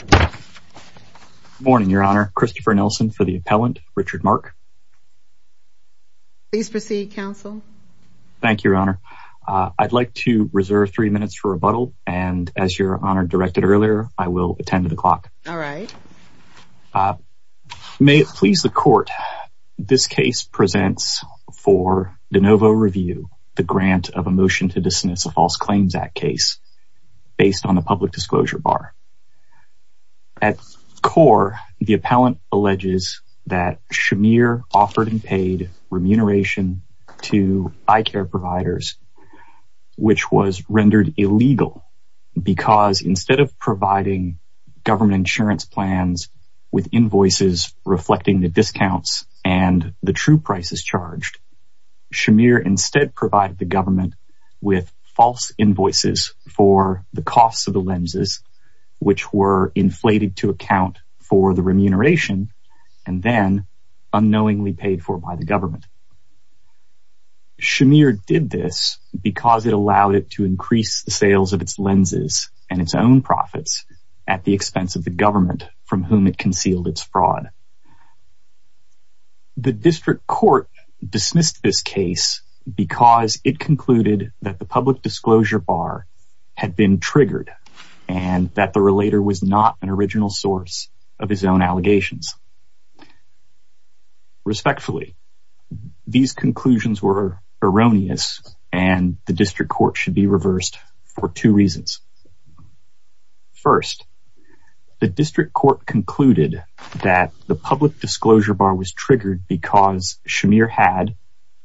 Good morning, Your Honor. Christopher Nelson for the appellant, Richard Mark. Please proceed, counsel. Thank you, Your Honor. I'd like to reserve three minutes for rebuttal, and as Your Honor directed earlier, I will attend to the clock. All right. May it please the Court, this case presents for de novo review the grant of a motion to dismiss a False Claims Act case based on the public disclosure bar. At core, the appellant alleges that Shamir offered and paid remuneration to eye care providers, which was rendered illegal, because instead of providing government insurance plans with invoices reflecting the discounts and the true prices charged, Shamir instead provided the government with false invoices for the costs of the lenses, which were inflated to account for the remuneration, and then unknowingly paid for by the government. Shamir did this because it allowed it to increase the sales of its lenses and its own profits at the expense of the government from whom it concealed its fraud. The district court dismissed this case because it concluded that the public disclosure bar had been triggered, and that the relator was not an original source of his own allegations. Respectfully, these conclusions were erroneous, and the district court should be reversed for two reasons. First, the district court concluded that the public disclosure bar was triggered because Shamir had,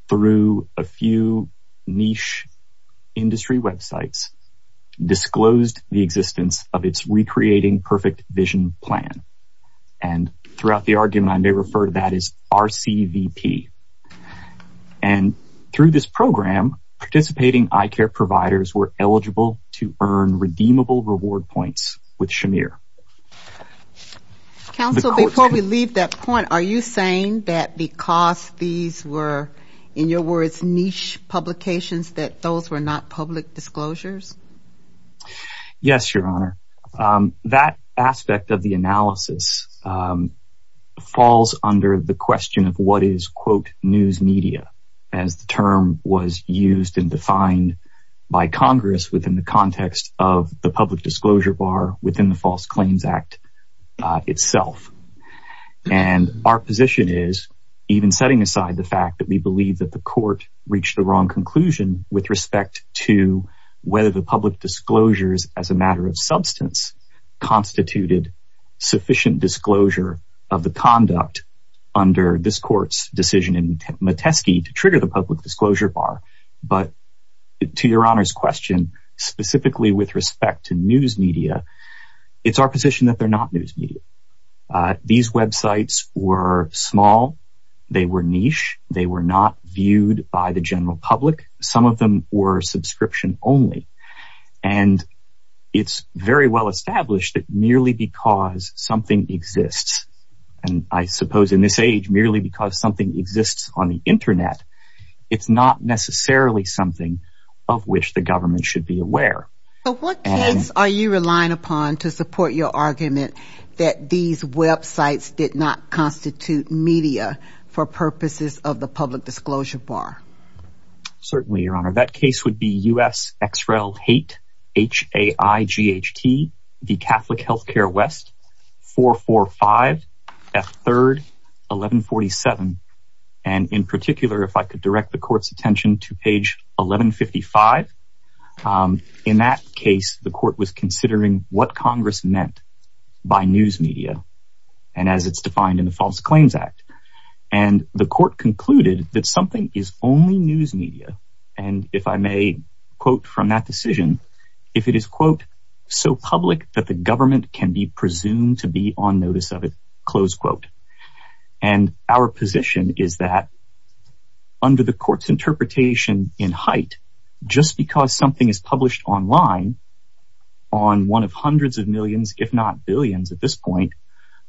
through a few niche industry websites, disclosed the existence of its Recreating Perfect Vision plan, and throughout the argument, I may refer to that as RCVP. And through this program, participating eye care providers were eligible to earn redeemable reward points with Shamir. Counsel, before we leave that point, are you saying that because these were, in your words, niche publications, that those were not public disclosures? Yes, Your Honor. That aspect of the analysis falls under the question of what is, quote, news media, as the term was used and defined by Congress within the context of the public disclosure bar within the False Claims Act itself. And our position is, even setting aside the fact that we believe that the court reached the wrong conclusion with respect to whether the public disclosures as a matter of substance constituted sufficient disclosure of the conduct under this court's decision in Metesky to trigger the public disclosure bar, but to Your Honor's question, specifically with respect to news media, it's our position that they're not news media. These websites were small. They were niche. They were not viewed by the general public. Some of them were subscription only. And it's very well established that merely because something exists, and I suppose in this age, merely because something exists on the Internet, it's not necessarily something of which the government should be aware. So what case are you relying upon to support your argument that these websites did not constitute media for purposes of the public disclosure bar? Certainly, Your Honor. That case would be U.S. X-Rail Hate, H-A-I-G-H-T, the Catholic Healthcare West, 445 F. 3rd, 1147. And in particular, if I could direct the court's attention to page 1155. In that case, the court was considering what Congress meant by news media and as it's defined in the False Claims Act. And the court concluded that something is only news media. And if I may quote from that decision, if it is, quote, so public that the government can be presumed to be on notice of it, close quote. And our position is that under the court's interpretation in height, just because something is published online on one of hundreds of millions, if not billions at this point,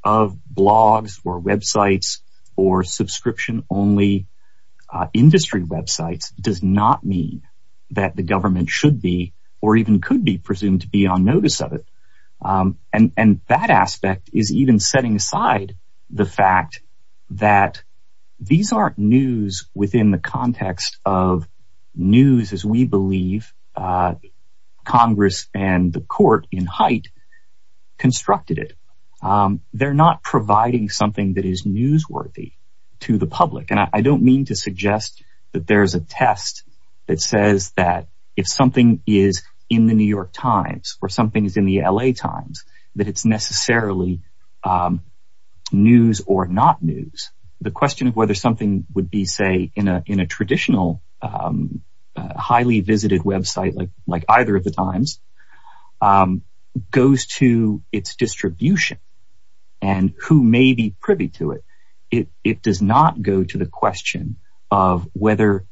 of blogs or websites or subscription only industry websites does not mean that the government should be or even could be presumed to be on notice of it. And that aspect is even setting aside the fact that these aren't news within the context of news as we believe Congress and the court in height constructed it. They're not providing something that is newsworthy to the public. And I don't mean to suggest that there's a test that says that if something is in the New York Times or something is in the L.A. Times that it's necessarily news or not news. The question of whether something would be, say, in a traditional highly visited website like either of the times goes to its distribution and who may be privy to it. It does not go to the question of whether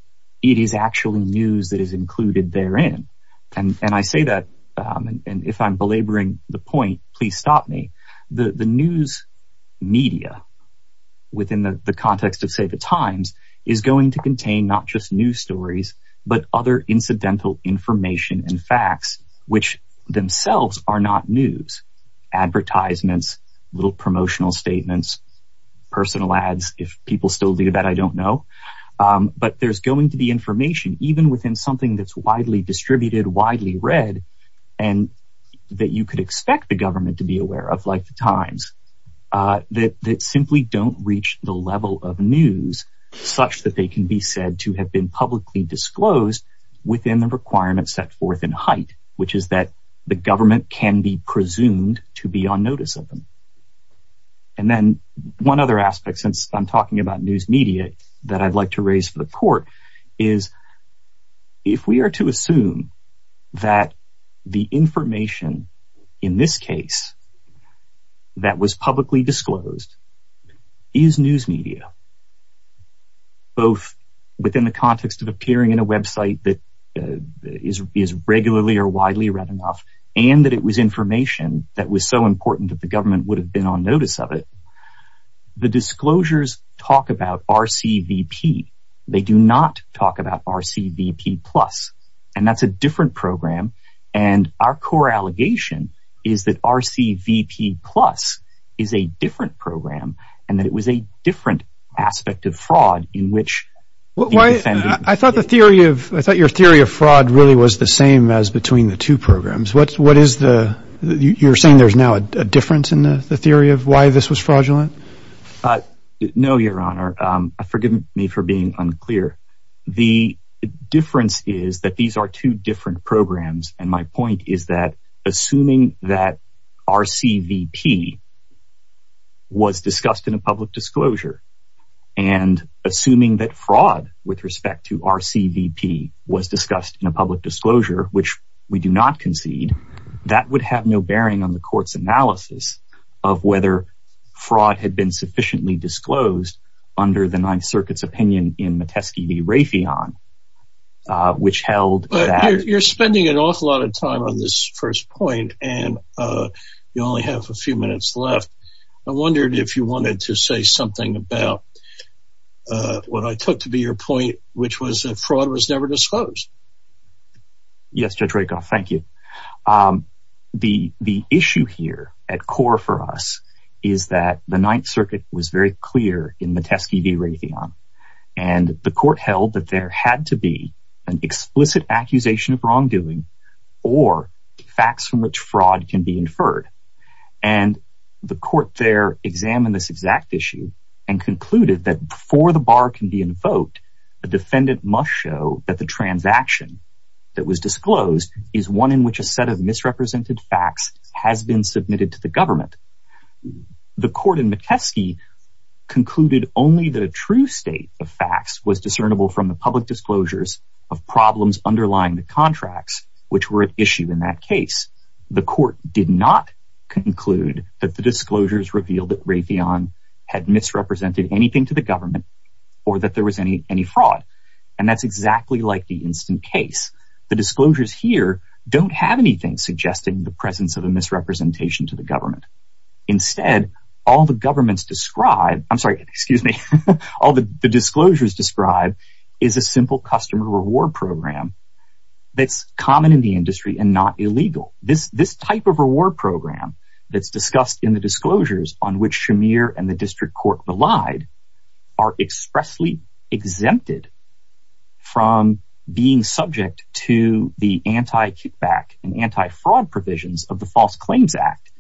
it is actually news that is included therein. And I say that if I'm belaboring the point, please stop me. The news media within the context of, say, the Times is going to contain not just news stories, but other incidental information and facts which themselves are not news advertisements, little promotional statements, personal ads. If people still do that, I don't know. But there's going to be information even within something that's widely distributed, widely read, and that you could expect the government to be aware of like the Times. That simply don't reach the level of news such that they can be said to have been publicly disclosed within the requirements set forth in height, which is that the government can be presumed to be on notice of them. And then one other aspect since I'm talking about news media that I'd like to raise for the court is if we are to assume that the information in this case that was publicly disclosed is news media, both within the context of appearing in a website that is regularly or widely read enough, and that it was information that was so important that the government would have been on notice of it, the disclosures talk about RCVP. They do not talk about RCVP Plus. And that's a different program. And our core allegation is that RCVP Plus is a different program and that it was a different aspect of fraud in which the defendant... I thought your theory of fraud really was the same as between the two programs. You're saying there's now a difference in the theory of why this was fraudulent? No, Your Honor. Forgive me for being unclear. The difference is that these are two different programs. And my point is that assuming that RCVP was discussed in a public disclosure and assuming that fraud with respect to RCVP was discussed in a public disclosure, which we do not concede, that would have no bearing on the court's analysis of whether fraud had been sufficiently disclosed under the Ninth Circuit's opinion in Metesky v. Raytheon, which held that... You're spending an awful lot of time on this first point, and you only have a few minutes left. I wondered if you wanted to say something about what I took to be your point, which was that fraud was never disclosed. Yes, Judge Rakoff, thank you. The issue here at core for us is that the Ninth Circuit was very clear in Metesky v. Raytheon, and the court held that there had to be an explicit accusation of wrongdoing or facts from which fraud can be inferred. And the court there examined this exact issue and concluded that before the bar can be invoked, the defendant must show that the transaction that was disclosed is one in which a set of misrepresented facts has been submitted to the government. The court in Metesky concluded only that a true state of facts was discernible from the public disclosures of problems underlying the contracts, which were at issue in that case. The court did not conclude that the disclosures revealed that Raytheon had misrepresented anything to the government or that there was any fraud. And that's exactly like the instant case. The disclosures here don't have anything suggesting the presence of a misrepresentation to the government. Instead, all the disclosures describe is a simple customer reward program that's common in the industry and not illegal. This type of reward program that's discussed in the disclosures on which Shamir and the district court relied are expressly exempted from being subject to the anti-kickback and anti-fraud provisions of the False Claims Act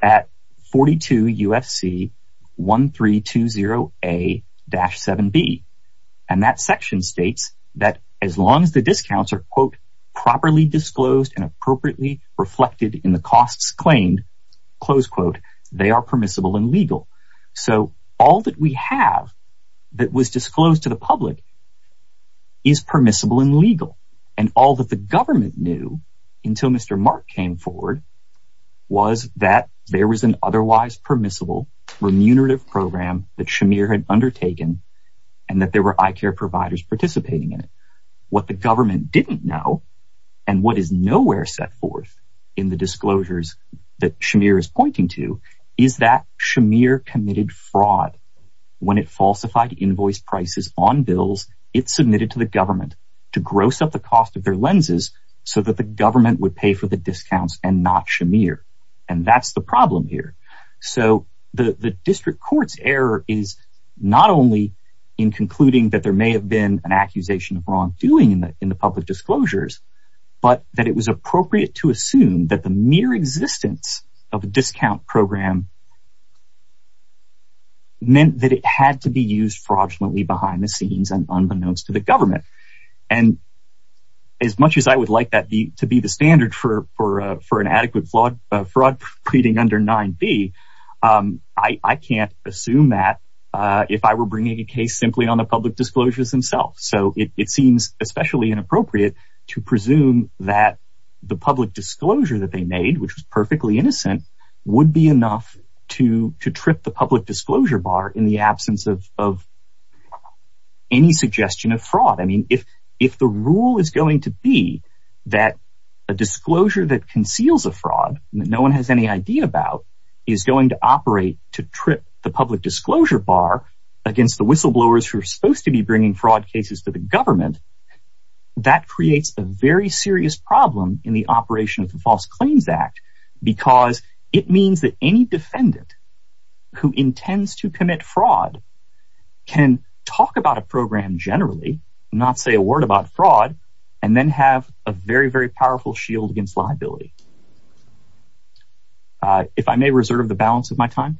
at 42 UFC 1320A-7B. And that section states that as long as the discounts are, quote, properly disclosed and appropriately reflected in the costs claimed, close quote, they are permissible and legal. So all that we have that was disclosed to the public is permissible and legal. And all that the government knew until Mr. Mark came forward was that there was an otherwise permissible remunerative program that Shamir had undertaken and that there were eye care providers participating in it. What the government didn't know and what is nowhere set forth in the disclosures that Shamir is pointing to is that Shamir committed fraud when it falsified invoice prices on bills it submitted to the government to gross up the cost of their lenses so that the government would pay for the discounts and not Shamir. And that's the problem here. So the district court's error is not only in concluding that there may have been an accusation of wrongdoing in the public disclosures, but that it was appropriate to assume that the mere existence of a discount program meant that it had to be used fraudulently behind the scenes and unbeknownst to the government. And as much as I would like that to be the standard for an adequate fraud proceeding under 9b, I can't assume that if I were bringing a case simply on the public disclosures themselves. So it seems especially inappropriate to presume that the public disclosure that they made, which was perfectly innocent, would be enough to trip the public disclosure bar in the absence of any suggestion of fraud. I mean, if the rule is going to be that a disclosure that conceals a fraud that no one has any idea about is going to operate to trip the public disclosure bar against the whistleblowers who are supposed to be bringing fraud cases to the government, that creates a very serious problem in the operation of the False Claims Act. Because it means that any defendant who intends to commit fraud can talk about a program generally, not say a word about fraud, and then have a very, very powerful shield against liability. If I may reserve the balance of my time?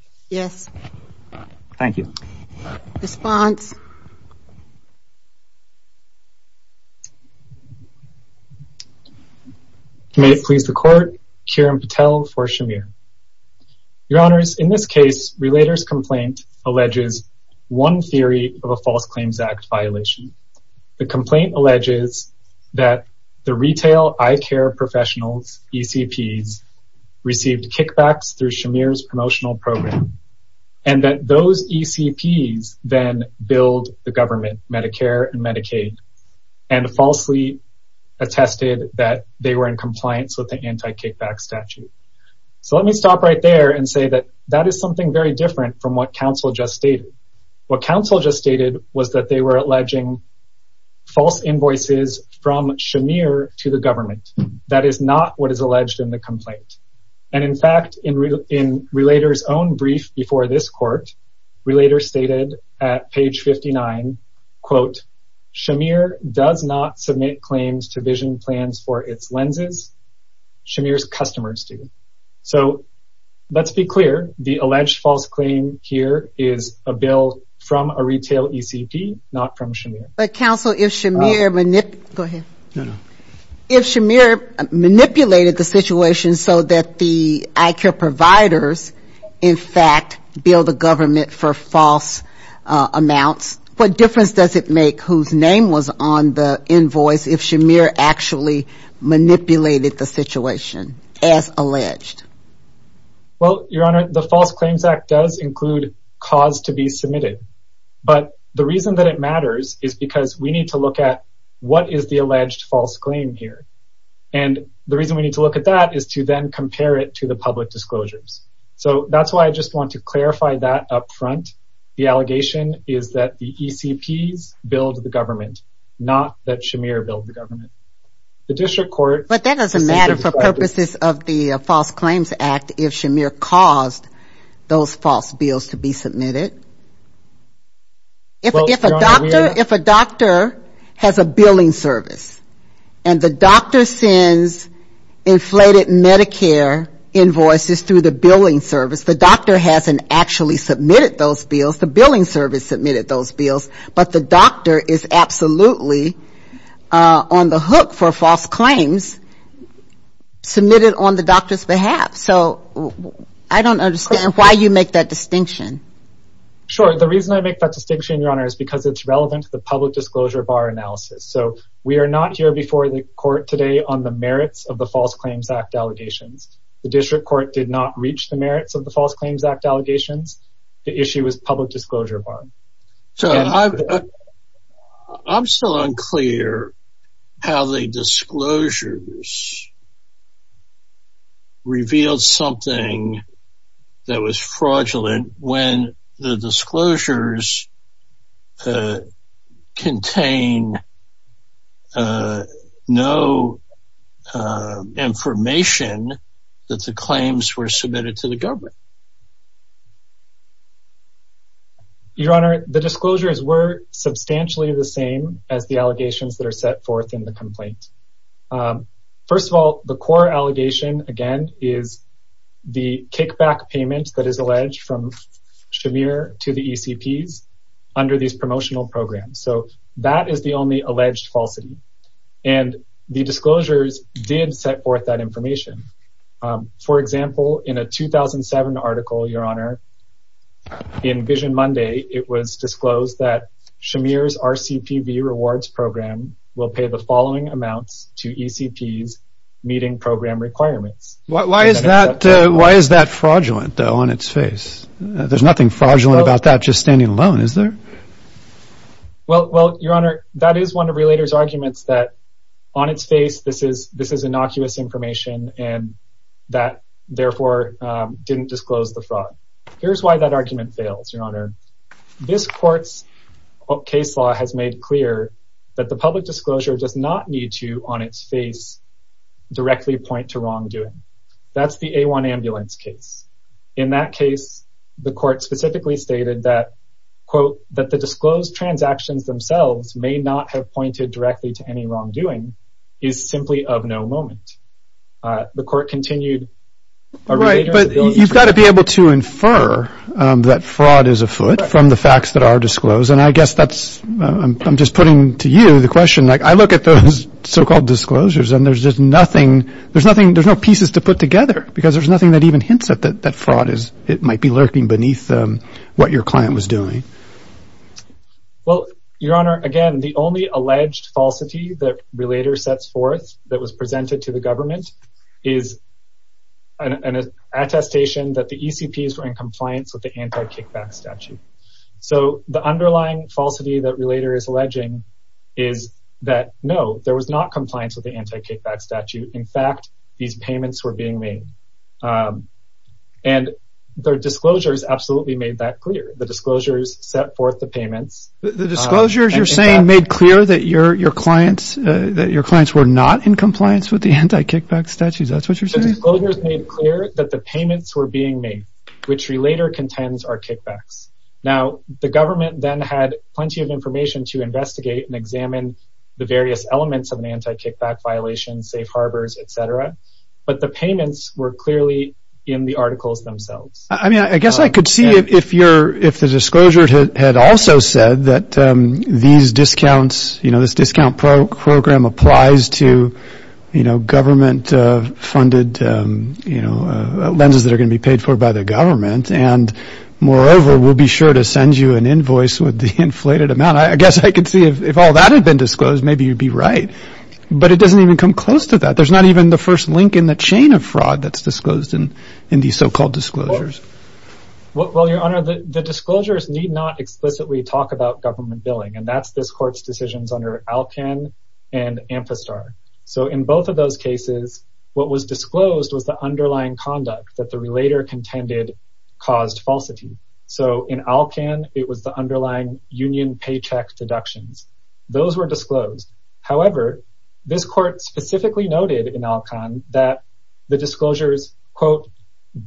Thank you. Response? May it please the court, Kiran Patel for Shamir. Your Honors, in this case, Relator's complaint alleges one theory of a False Claims Act violation. The complaint alleges that the retail eye care professionals, ECPs, received kickbacks through Shamir's promotional program, and that those ECPs then billed the government, Medicare and Medicaid, and falsely attested that they were in compliance with the anti-kickback statute. So let me stop right there and say that that is something very different from what counsel just stated. What counsel just stated was that they were alleging false invoices from Shamir to the government. That is not what is alleged in the complaint. And in fact, in Relator's own brief before this court, Relator stated at page 59, quote, Shamir does not submit claims to vision plans for its lenses. Shamir's customers do. So let's be clear. The alleged false claim here is a bill from a retail ECP, not from Shamir. But counsel, if Shamir manipulated the situation so that the eye care providers, in fact, billed the government for false amounts, what difference does it make whose name was on the invoice if Shamir actually manipulated the situation as alleged? Well, Your Honor, the False Claims Act does include cause to be submitted. But the reason that it matters is because we need to look at what is the alleged false claim here. And the reason we need to look at that is to then compare it to the public disclosures. So that's why I just want to clarify that up front. The allegation is that the ECPs billed the government, not that Shamir billed the government. But that doesn't matter for purposes of the False Claims Act if Shamir caused those false bills to be submitted. If a doctor has a billing service and the doctor sends inflated Medicare invoices through the billing service, the doctor hasn't actually submitted those bills. The billing service submitted those bills, but the doctor is absolutely on the hook for false claims submitted on the doctor's behalf. So I don't understand why you make that distinction. Sure. The reason I make that distinction, Your Honor, is because it's relevant to the public disclosure of our analysis. So we are not here before the court today on the merits of the False Claims Act allegations. The district court did not reach the merits of the False Claims Act allegations. The issue is public disclosure of our analysis. I'm still unclear how the disclosures revealed something that was fraudulent when the disclosures contain no information that the claims were submitted to the government. Your Honor, the disclosures were substantially the same as the allegations that are set forth in the complaint. First of all, the core allegation, again, is the kickback payment that is alleged from Shamir to the ECPs under these promotional programs. So that is the only alleged falsity. And the disclosures did set forth that information. For example, in a 2007 article, Your Honor, in Vision Monday, it was disclosed that Shamir's RCPV Rewards Program will pay the following amounts to ECPs meeting program requirements. Why is that fraudulent, though, on its face? There's nothing fraudulent about that just standing alone, is there? Well, Your Honor, that is one of Relator's arguments that on its face, this is innocuous information and that, therefore, didn't disclose the fraud. Here's why that argument fails, Your Honor. This court's case law has made clear that the public disclosure does not need to, on its face, directly point to wrongdoing. That's the A1 ambulance case. In that case, the court specifically stated that, quote, that the disclosed transactions themselves may not have pointed directly to any wrongdoing is simply of no moment. The court continued. Right, but you've got to be able to infer that fraud is afoot from the facts that are disclosed. And I guess that's – I'm just putting to you the question. I look at those so-called disclosures and there's just nothing – there's nothing – there's no pieces to put together because there's nothing that even hints at that fraud is – it might be lurking beneath what your client was doing. Well, Your Honor, again, the only alleged falsity that Relator sets forth that was presented to the government is an attestation that the ECPs were in compliance with the anti-kickback statute. So, the underlying falsity that Relator is alleging is that, no, there was not compliance with the anti-kickback statute. In fact, these payments were being made. And their disclosures absolutely made that clear. The disclosures set forth the payments. The disclosures you're saying made clear that your clients were not in compliance with the anti-kickback statute? Is that what you're saying? The disclosures made clear that the payments were being made, which Relator contends are kickbacks. Now, the government then had plenty of information to investigate and examine the various elements of an anti-kickback violation, safe harbors, et cetera. But the payments were clearly in the articles themselves. I mean, I guess I could see if the disclosures had also said that these discounts, you know, this discount program applies to, you know, government-funded, you know, lenses that are going to be paid for by the government. And, moreover, we'll be sure to send you an invoice with the inflated amount. I guess I could see if all that had been disclosed, maybe you'd be right. But it doesn't even come close to that. There's not even the first link in the chain of fraud that's disclosed in these so-called disclosures. Well, Your Honor, the disclosures need not explicitly talk about government billing. And that's this Court's decisions under Alcan and Amphistar. So in both of those cases, what was disclosed was the underlying conduct that the Relator contended caused falsity. So in Alcan, it was the underlying union paycheck deductions. Those were disclosed. However, this Court specifically noted in Alcan that the disclosures, quote,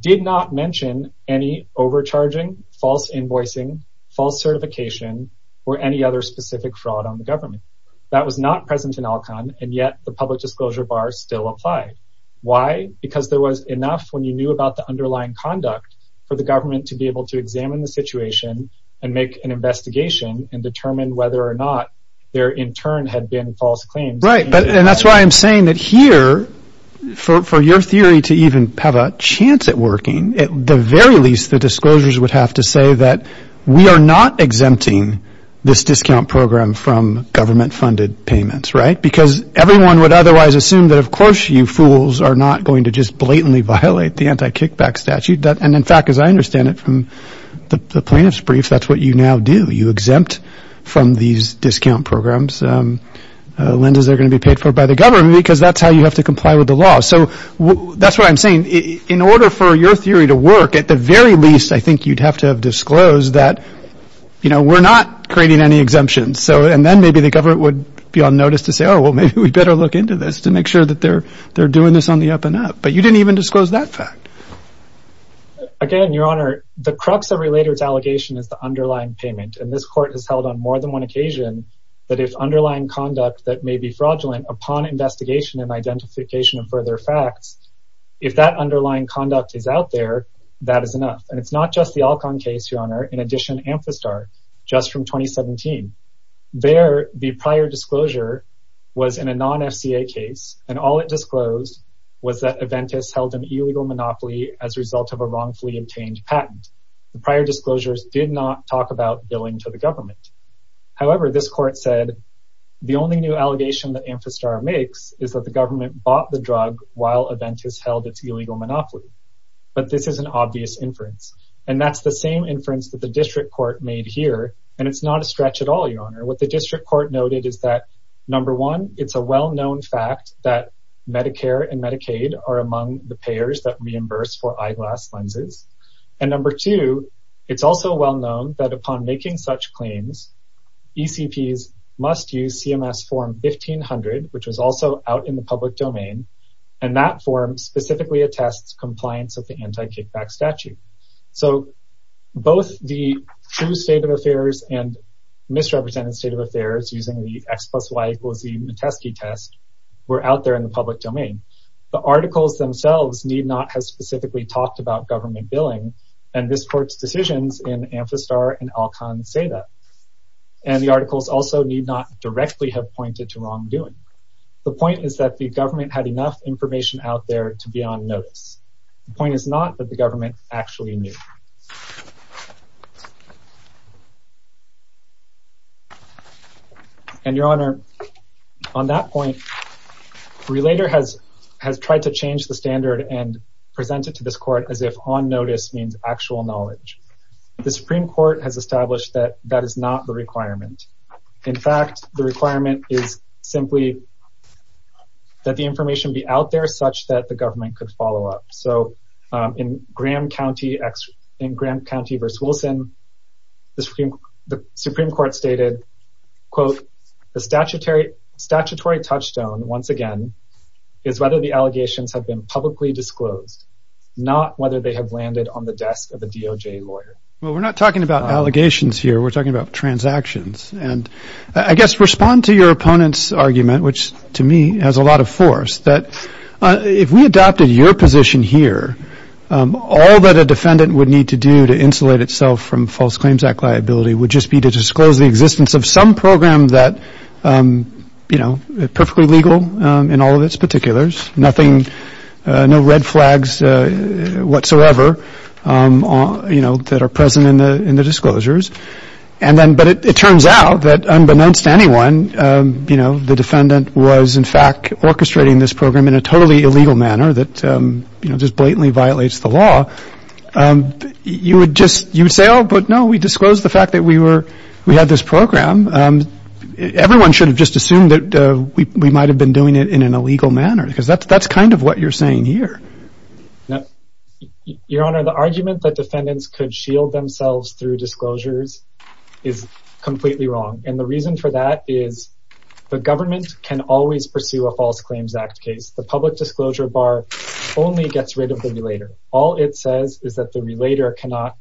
did not mention any overcharging, false invoicing, false certification, or any other specific fraud on the government. That was not present in Alcan, and yet the public disclosure bar still applied. Why? Because there was enough, when you knew about the underlying conduct, for the government to be able to examine the situation and make an investigation and determine whether or not there, in turn, had been false claims. Right, and that's why I'm saying that here, for your theory to even have a chance at working, at the very least, the disclosures would have to say that we are not exempting this discount program from government-funded payments, right? Because everyone would otherwise assume that, of course, you fools are not going to just blatantly violate the anti-kickback statute. And, in fact, as I understand it from the plaintiff's brief, that's what you now do. You exempt from these discount programs lenders that are going to be paid for by the government because that's how you have to comply with the law. So that's why I'm saying, in order for your theory to work, at the very least, I think you'd have to have disclosed that, you know, we're not creating any exemptions. And then maybe the government would be on notice to say, oh, well, maybe we better look into this to make sure that they're doing this on the up and up. But you didn't even disclose that fact. Again, Your Honor, the crux of Relator's allegation is the underlying payment. And this court has held on more than one occasion that if underlying conduct that may be fraudulent upon investigation and identification of further facts, if that underlying conduct is out there, that is enough. And it's not just the Alcon case, Your Honor, in addition to Amphistar, just from 2017. There, the prior disclosure was in a non-FCA case. And all it disclosed was that Aventis held an illegal monopoly as a result of a wrongfully obtained patent. The prior disclosures did not talk about billing to the government. However, this court said the only new allegation that Amphistar makes is that the government bought the drug while Aventis held its illegal monopoly. But this is an obvious inference. And that's the same inference that the district court made here. And it's not a stretch at all, Your Honor. What the district court noted is that, number one, it's a well-known fact that Medicare and Medicaid are among the payers that reimburse for eyeglass lenses. And number two, it's also well-known that upon making such claims, ECPs must use CMS Form 1500, which was also out in the public domain. And that form specifically attests compliance of the anti-kickback statute. So both the true state of affairs and misrepresented state of affairs using the X plus Y equals Z Mitesky test were out there in the public domain. The articles themselves need not have specifically talked about government billing and this court's decisions in Amphistar and Alcon say that. And the articles also need not directly have pointed to wrongdoing. The point is that the government had enough information out there to be on notice. The point is not that the government actually knew. And, Your Honor, on that point, Relator has tried to change the standard and present it to this court as if on notice means actual knowledge. The Supreme Court has established that that is not the requirement. In fact, the requirement is simply that the information be out there such that the government could follow up. So in Graham County v. Wilson, the Supreme Court stated, The statutory touchstone, once again, is whether the allegations have been publicly disclosed, not whether they have landed on the desk of a DOJ lawyer. Well, we're not talking about allegations here. We're talking about transactions. And I guess respond to your opponent's argument, which to me has a lot of force, that if we adopted your position here, all that a defendant would need to do to insulate itself from False Claims Act liability would just be to disclose the existence of some program that is perfectly legal in all of its particulars, no red flags whatsoever that are present in the disclosures. But it turns out that unbeknownst to anyone, the defendant was, in fact, orchestrating this program in a totally illegal manner that just blatantly violates the law. You would say, oh, but no, we disclosed the fact that we had this program. Everyone should have just assumed that we might have been doing it in an illegal manner, because that's kind of what you're saying here. Your Honor, the argument that defendants could shield themselves through disclosures is completely wrong. And the reason for that is the government can always pursue a False Claims Act case. The public disclosure bar only gets rid of the violator. All it says is that the violator cannot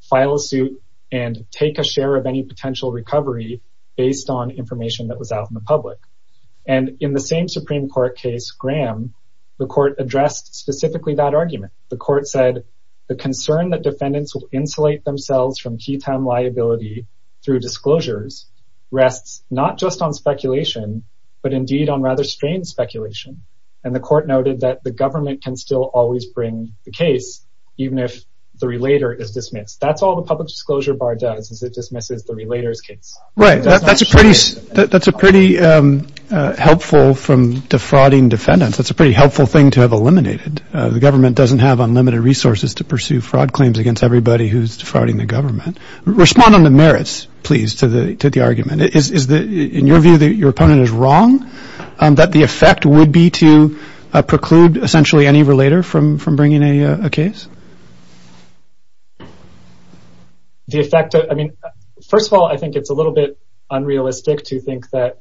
file a suit and take a share of any potential recovery based on information that was out in the public. And in the same Supreme Court case, Graham, the court addressed specifically that argument. The court said the concern that defendants will insulate themselves from key time liability through disclosures rests not just on speculation, but indeed on rather strange speculation. And the court noted that the government can still always bring the case, even if the relator is dismissed. That's all the public disclosure bar does, is it dismisses the relator's case. Right. That's a pretty helpful from defrauding defendants. That's a pretty helpful thing to have eliminated. The government doesn't have unlimited resources to pursue fraud claims against everybody who's defrauding the government. Respond on the merits, please, to the argument. In your view, your opponent is wrong? That the effect would be to preclude, essentially, any relator from bringing a case? First of all, I think it's a little bit unrealistic to think that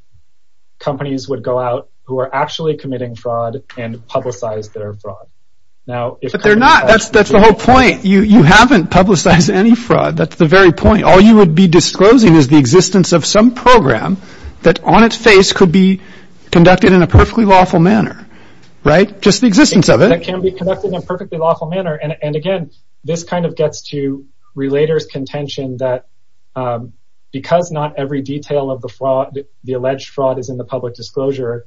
companies would go out who are actually committing fraud and publicize their fraud. But they're not. That's the whole point. You haven't publicized any fraud. That's the very point. All you would be disclosing is the existence of some program that on its face could be conducted in a perfectly lawful manner. Right? Just the existence of it. That can be conducted in a perfectly lawful manner. And again, this kind of gets to relator's contention that because not every detail of the fraud, the alleged fraud is in the public disclosure,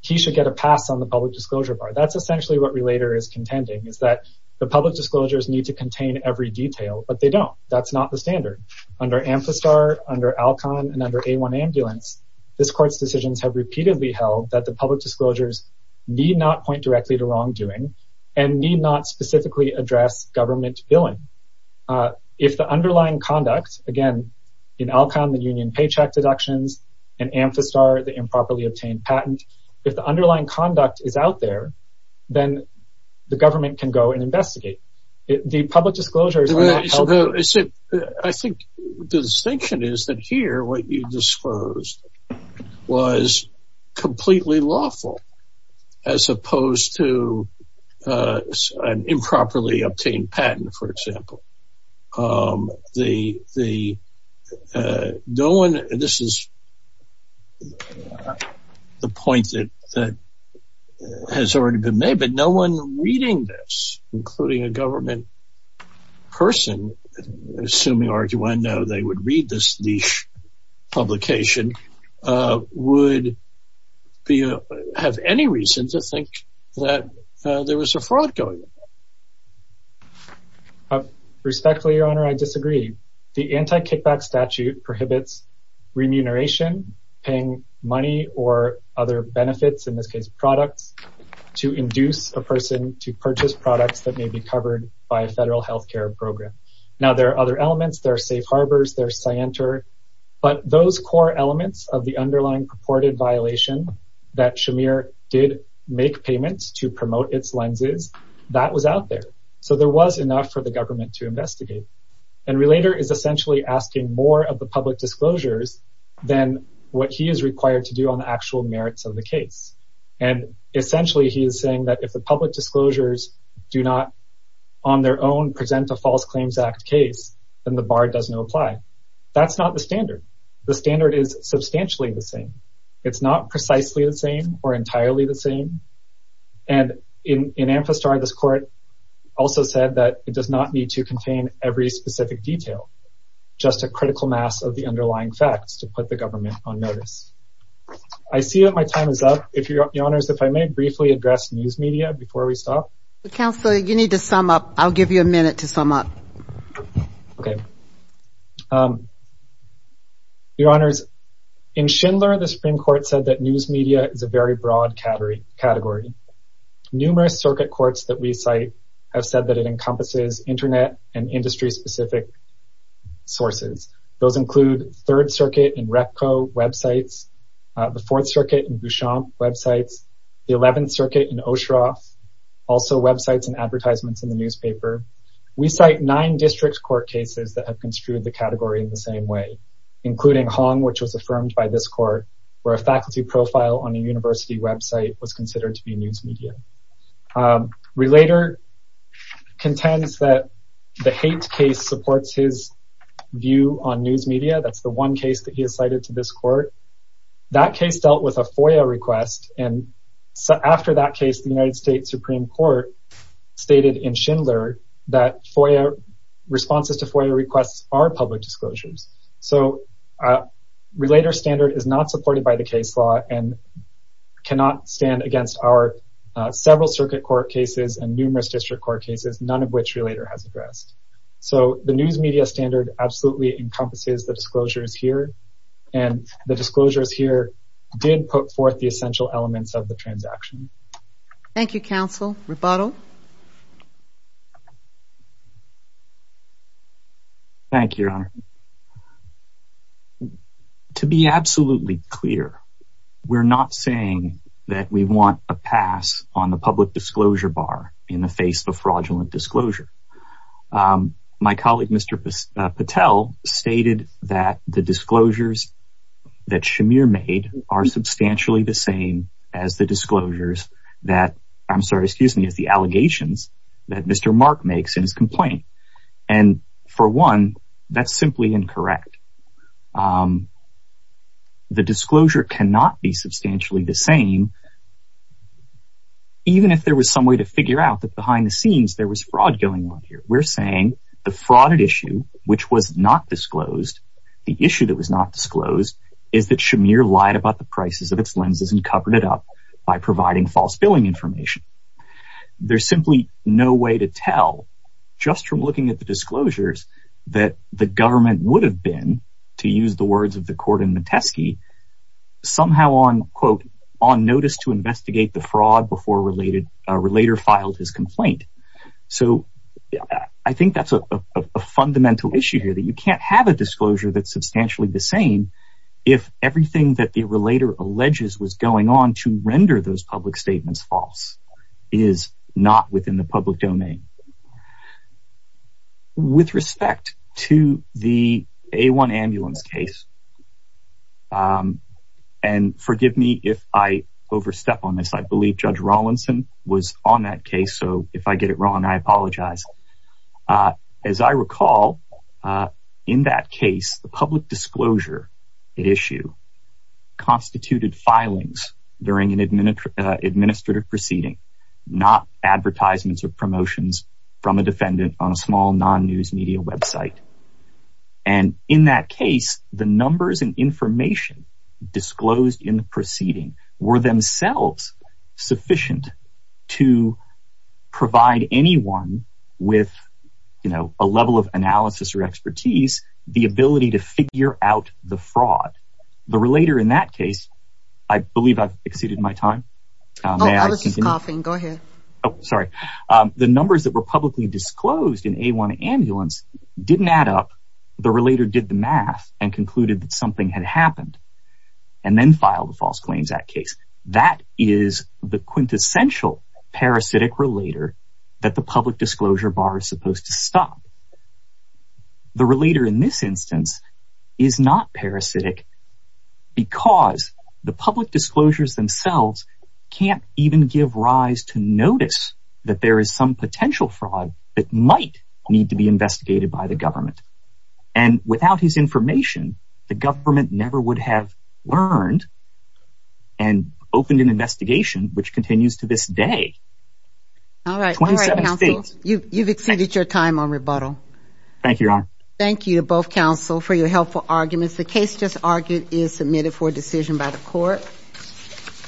he should get a pass on the public disclosure bar. That's essentially what relator is contending, is that the public disclosures need to contain every detail, but they don't. That's not the standard. Under Amphistar, under Alcon, and under A1 Ambulance, this court's decisions have repeatedly held that the public disclosures need not point directly to wrongdoing and need not specifically address government billing. If the underlying conduct, again, in Alcon, the union paycheck deductions, and Amphistar, the improperly obtained patent, if the underlying conduct is out there, then the government can go and investigate. The public disclosures... I think the distinction is that here what you disclosed was completely lawful, as opposed to an improperly obtained patent, for example. This is the point that has already been made, but no one reading this, including a government person, assuming RQ1.0, they would read this niche publication, would have any reason to think that there was a fraud going on. Respectfully, Your Honor, I disagree. The anti-kickback statute prohibits remuneration, paying money or other benefits, in this case products, to induce a person to purchase products that may be covered by a federal health care program. Now, there are other elements, there are safe harbors, there's scienter, but those core elements of the underlying purported violation that Shamir did make payments to promote its lenses, that was out there. So there was enough for the government to investigate. And Relator is essentially asking more of the public disclosures than what he is required to do on the actual merits of the case. And essentially he is saying that if the public disclosures do not, on their own, present a False Claims Act case, then the bar does not apply. That's not the standard. The standard is substantially the same. It's not precisely the same or entirely the same. And in Amphistar, this court also said that it does not need to contain every specific detail, just a critical mass of the underlying facts to put the government on notice. I see that my time is up. Your Honors, if I may briefly address news media before we stop. Counsel, you need to sum up. I'll give you a minute to sum up. Your Honors, in Schindler, the Supreme Court said that news media is a very broad category. Numerous circuit courts that we cite have said that it encompasses Internet and industry-specific sources. Those include Third Circuit and Repco websites, the Fourth Circuit and Bouchamp websites, the Eleventh Circuit and Oshroff, also websites and advertisements in the newspaper. We cite nine district court cases that have construed the category in the same way, including Hong, which was affirmed by this court, where a faculty profile on a university website was considered to be news media. Relator contends that the hate case supports his view on news media. That's the one case that he has cited to this court. That case dealt with a FOIA request. And after that case, the United States Supreme Court stated in Schindler that FOIA responses to FOIA requests are public disclosures. So, Relator's standard is not supported by the case law and cannot stand against our several circuit court cases and numerous district court cases, none of which Relator has addressed. So, the news media standard absolutely encompasses the disclosures here, and the disclosures here did put forth the essential elements of the transaction. Thank you, counsel. Rebuttal. Thank you, Your Honor. To be absolutely clear, we're not saying that we want a pass on the public disclosure bar in the face of a fraudulent disclosure. My colleague, Mr. Patel, stated that the disclosures that Shamir made are substantially the same as the disclosures that, I'm sorry, excuse me, as the allegations that Mr. Mark makes in his complaint. And for one, that's simply incorrect. The disclosure cannot be substantially the same, even if there was some way to figure out that behind the scenes there was fraud going on here. We're saying the fraud issue, which was not disclosed, the issue that was not disclosed is that Shamir lied about the prices of its lenses and covered it up by providing false billing information. There's simply no way to tell, just from looking at the disclosures, that the government would have been, to use the words of the court in Metesky, somehow on, quote, on notice to investigate the fraud before a relator filed his complaint. So I think that's a fundamental issue here, that you can't have a disclosure that's substantially the same if everything that the relator alleges was going on to render those public statements false is not within the public domain. With respect to the A1 ambulance case, and forgive me if I overstep on this, I believe Judge Rawlinson was on that case, so if I get it wrong, I apologize. As I recall, in that case, the public disclosure issue constituted filings during an administrative proceeding, not advertisements or promotions from a defendant on a small non-news media website. And in that case, the numbers and information disclosed in the proceeding were themselves sufficient to provide anyone with, you know, a level of analysis or expertise, the ability to figure out the fraud. The relator in that case, I believe I've exceeded my time. Oh, I was just coughing. Go ahead. Oh, sorry. The numbers that were publicly disclosed in A1 ambulance didn't add up. The relator did the math and concluded that something had happened and then filed a false claims act case. That is the quintessential parasitic relator that the public disclosure bar is supposed to stop. The relator in this instance is not parasitic because the public disclosures themselves can't even give rise to notice that there is some potential fraud that might need to be investigated by the government. And without his information, the government never would have learned and opened an investigation which continues to this day. All right. 27 states. All right, counsel. You've exceeded your time on rebuttal. Thank you, Your Honor. Thank you to both counsel for your helpful arguments. The case just argued is submitted for decision by the court.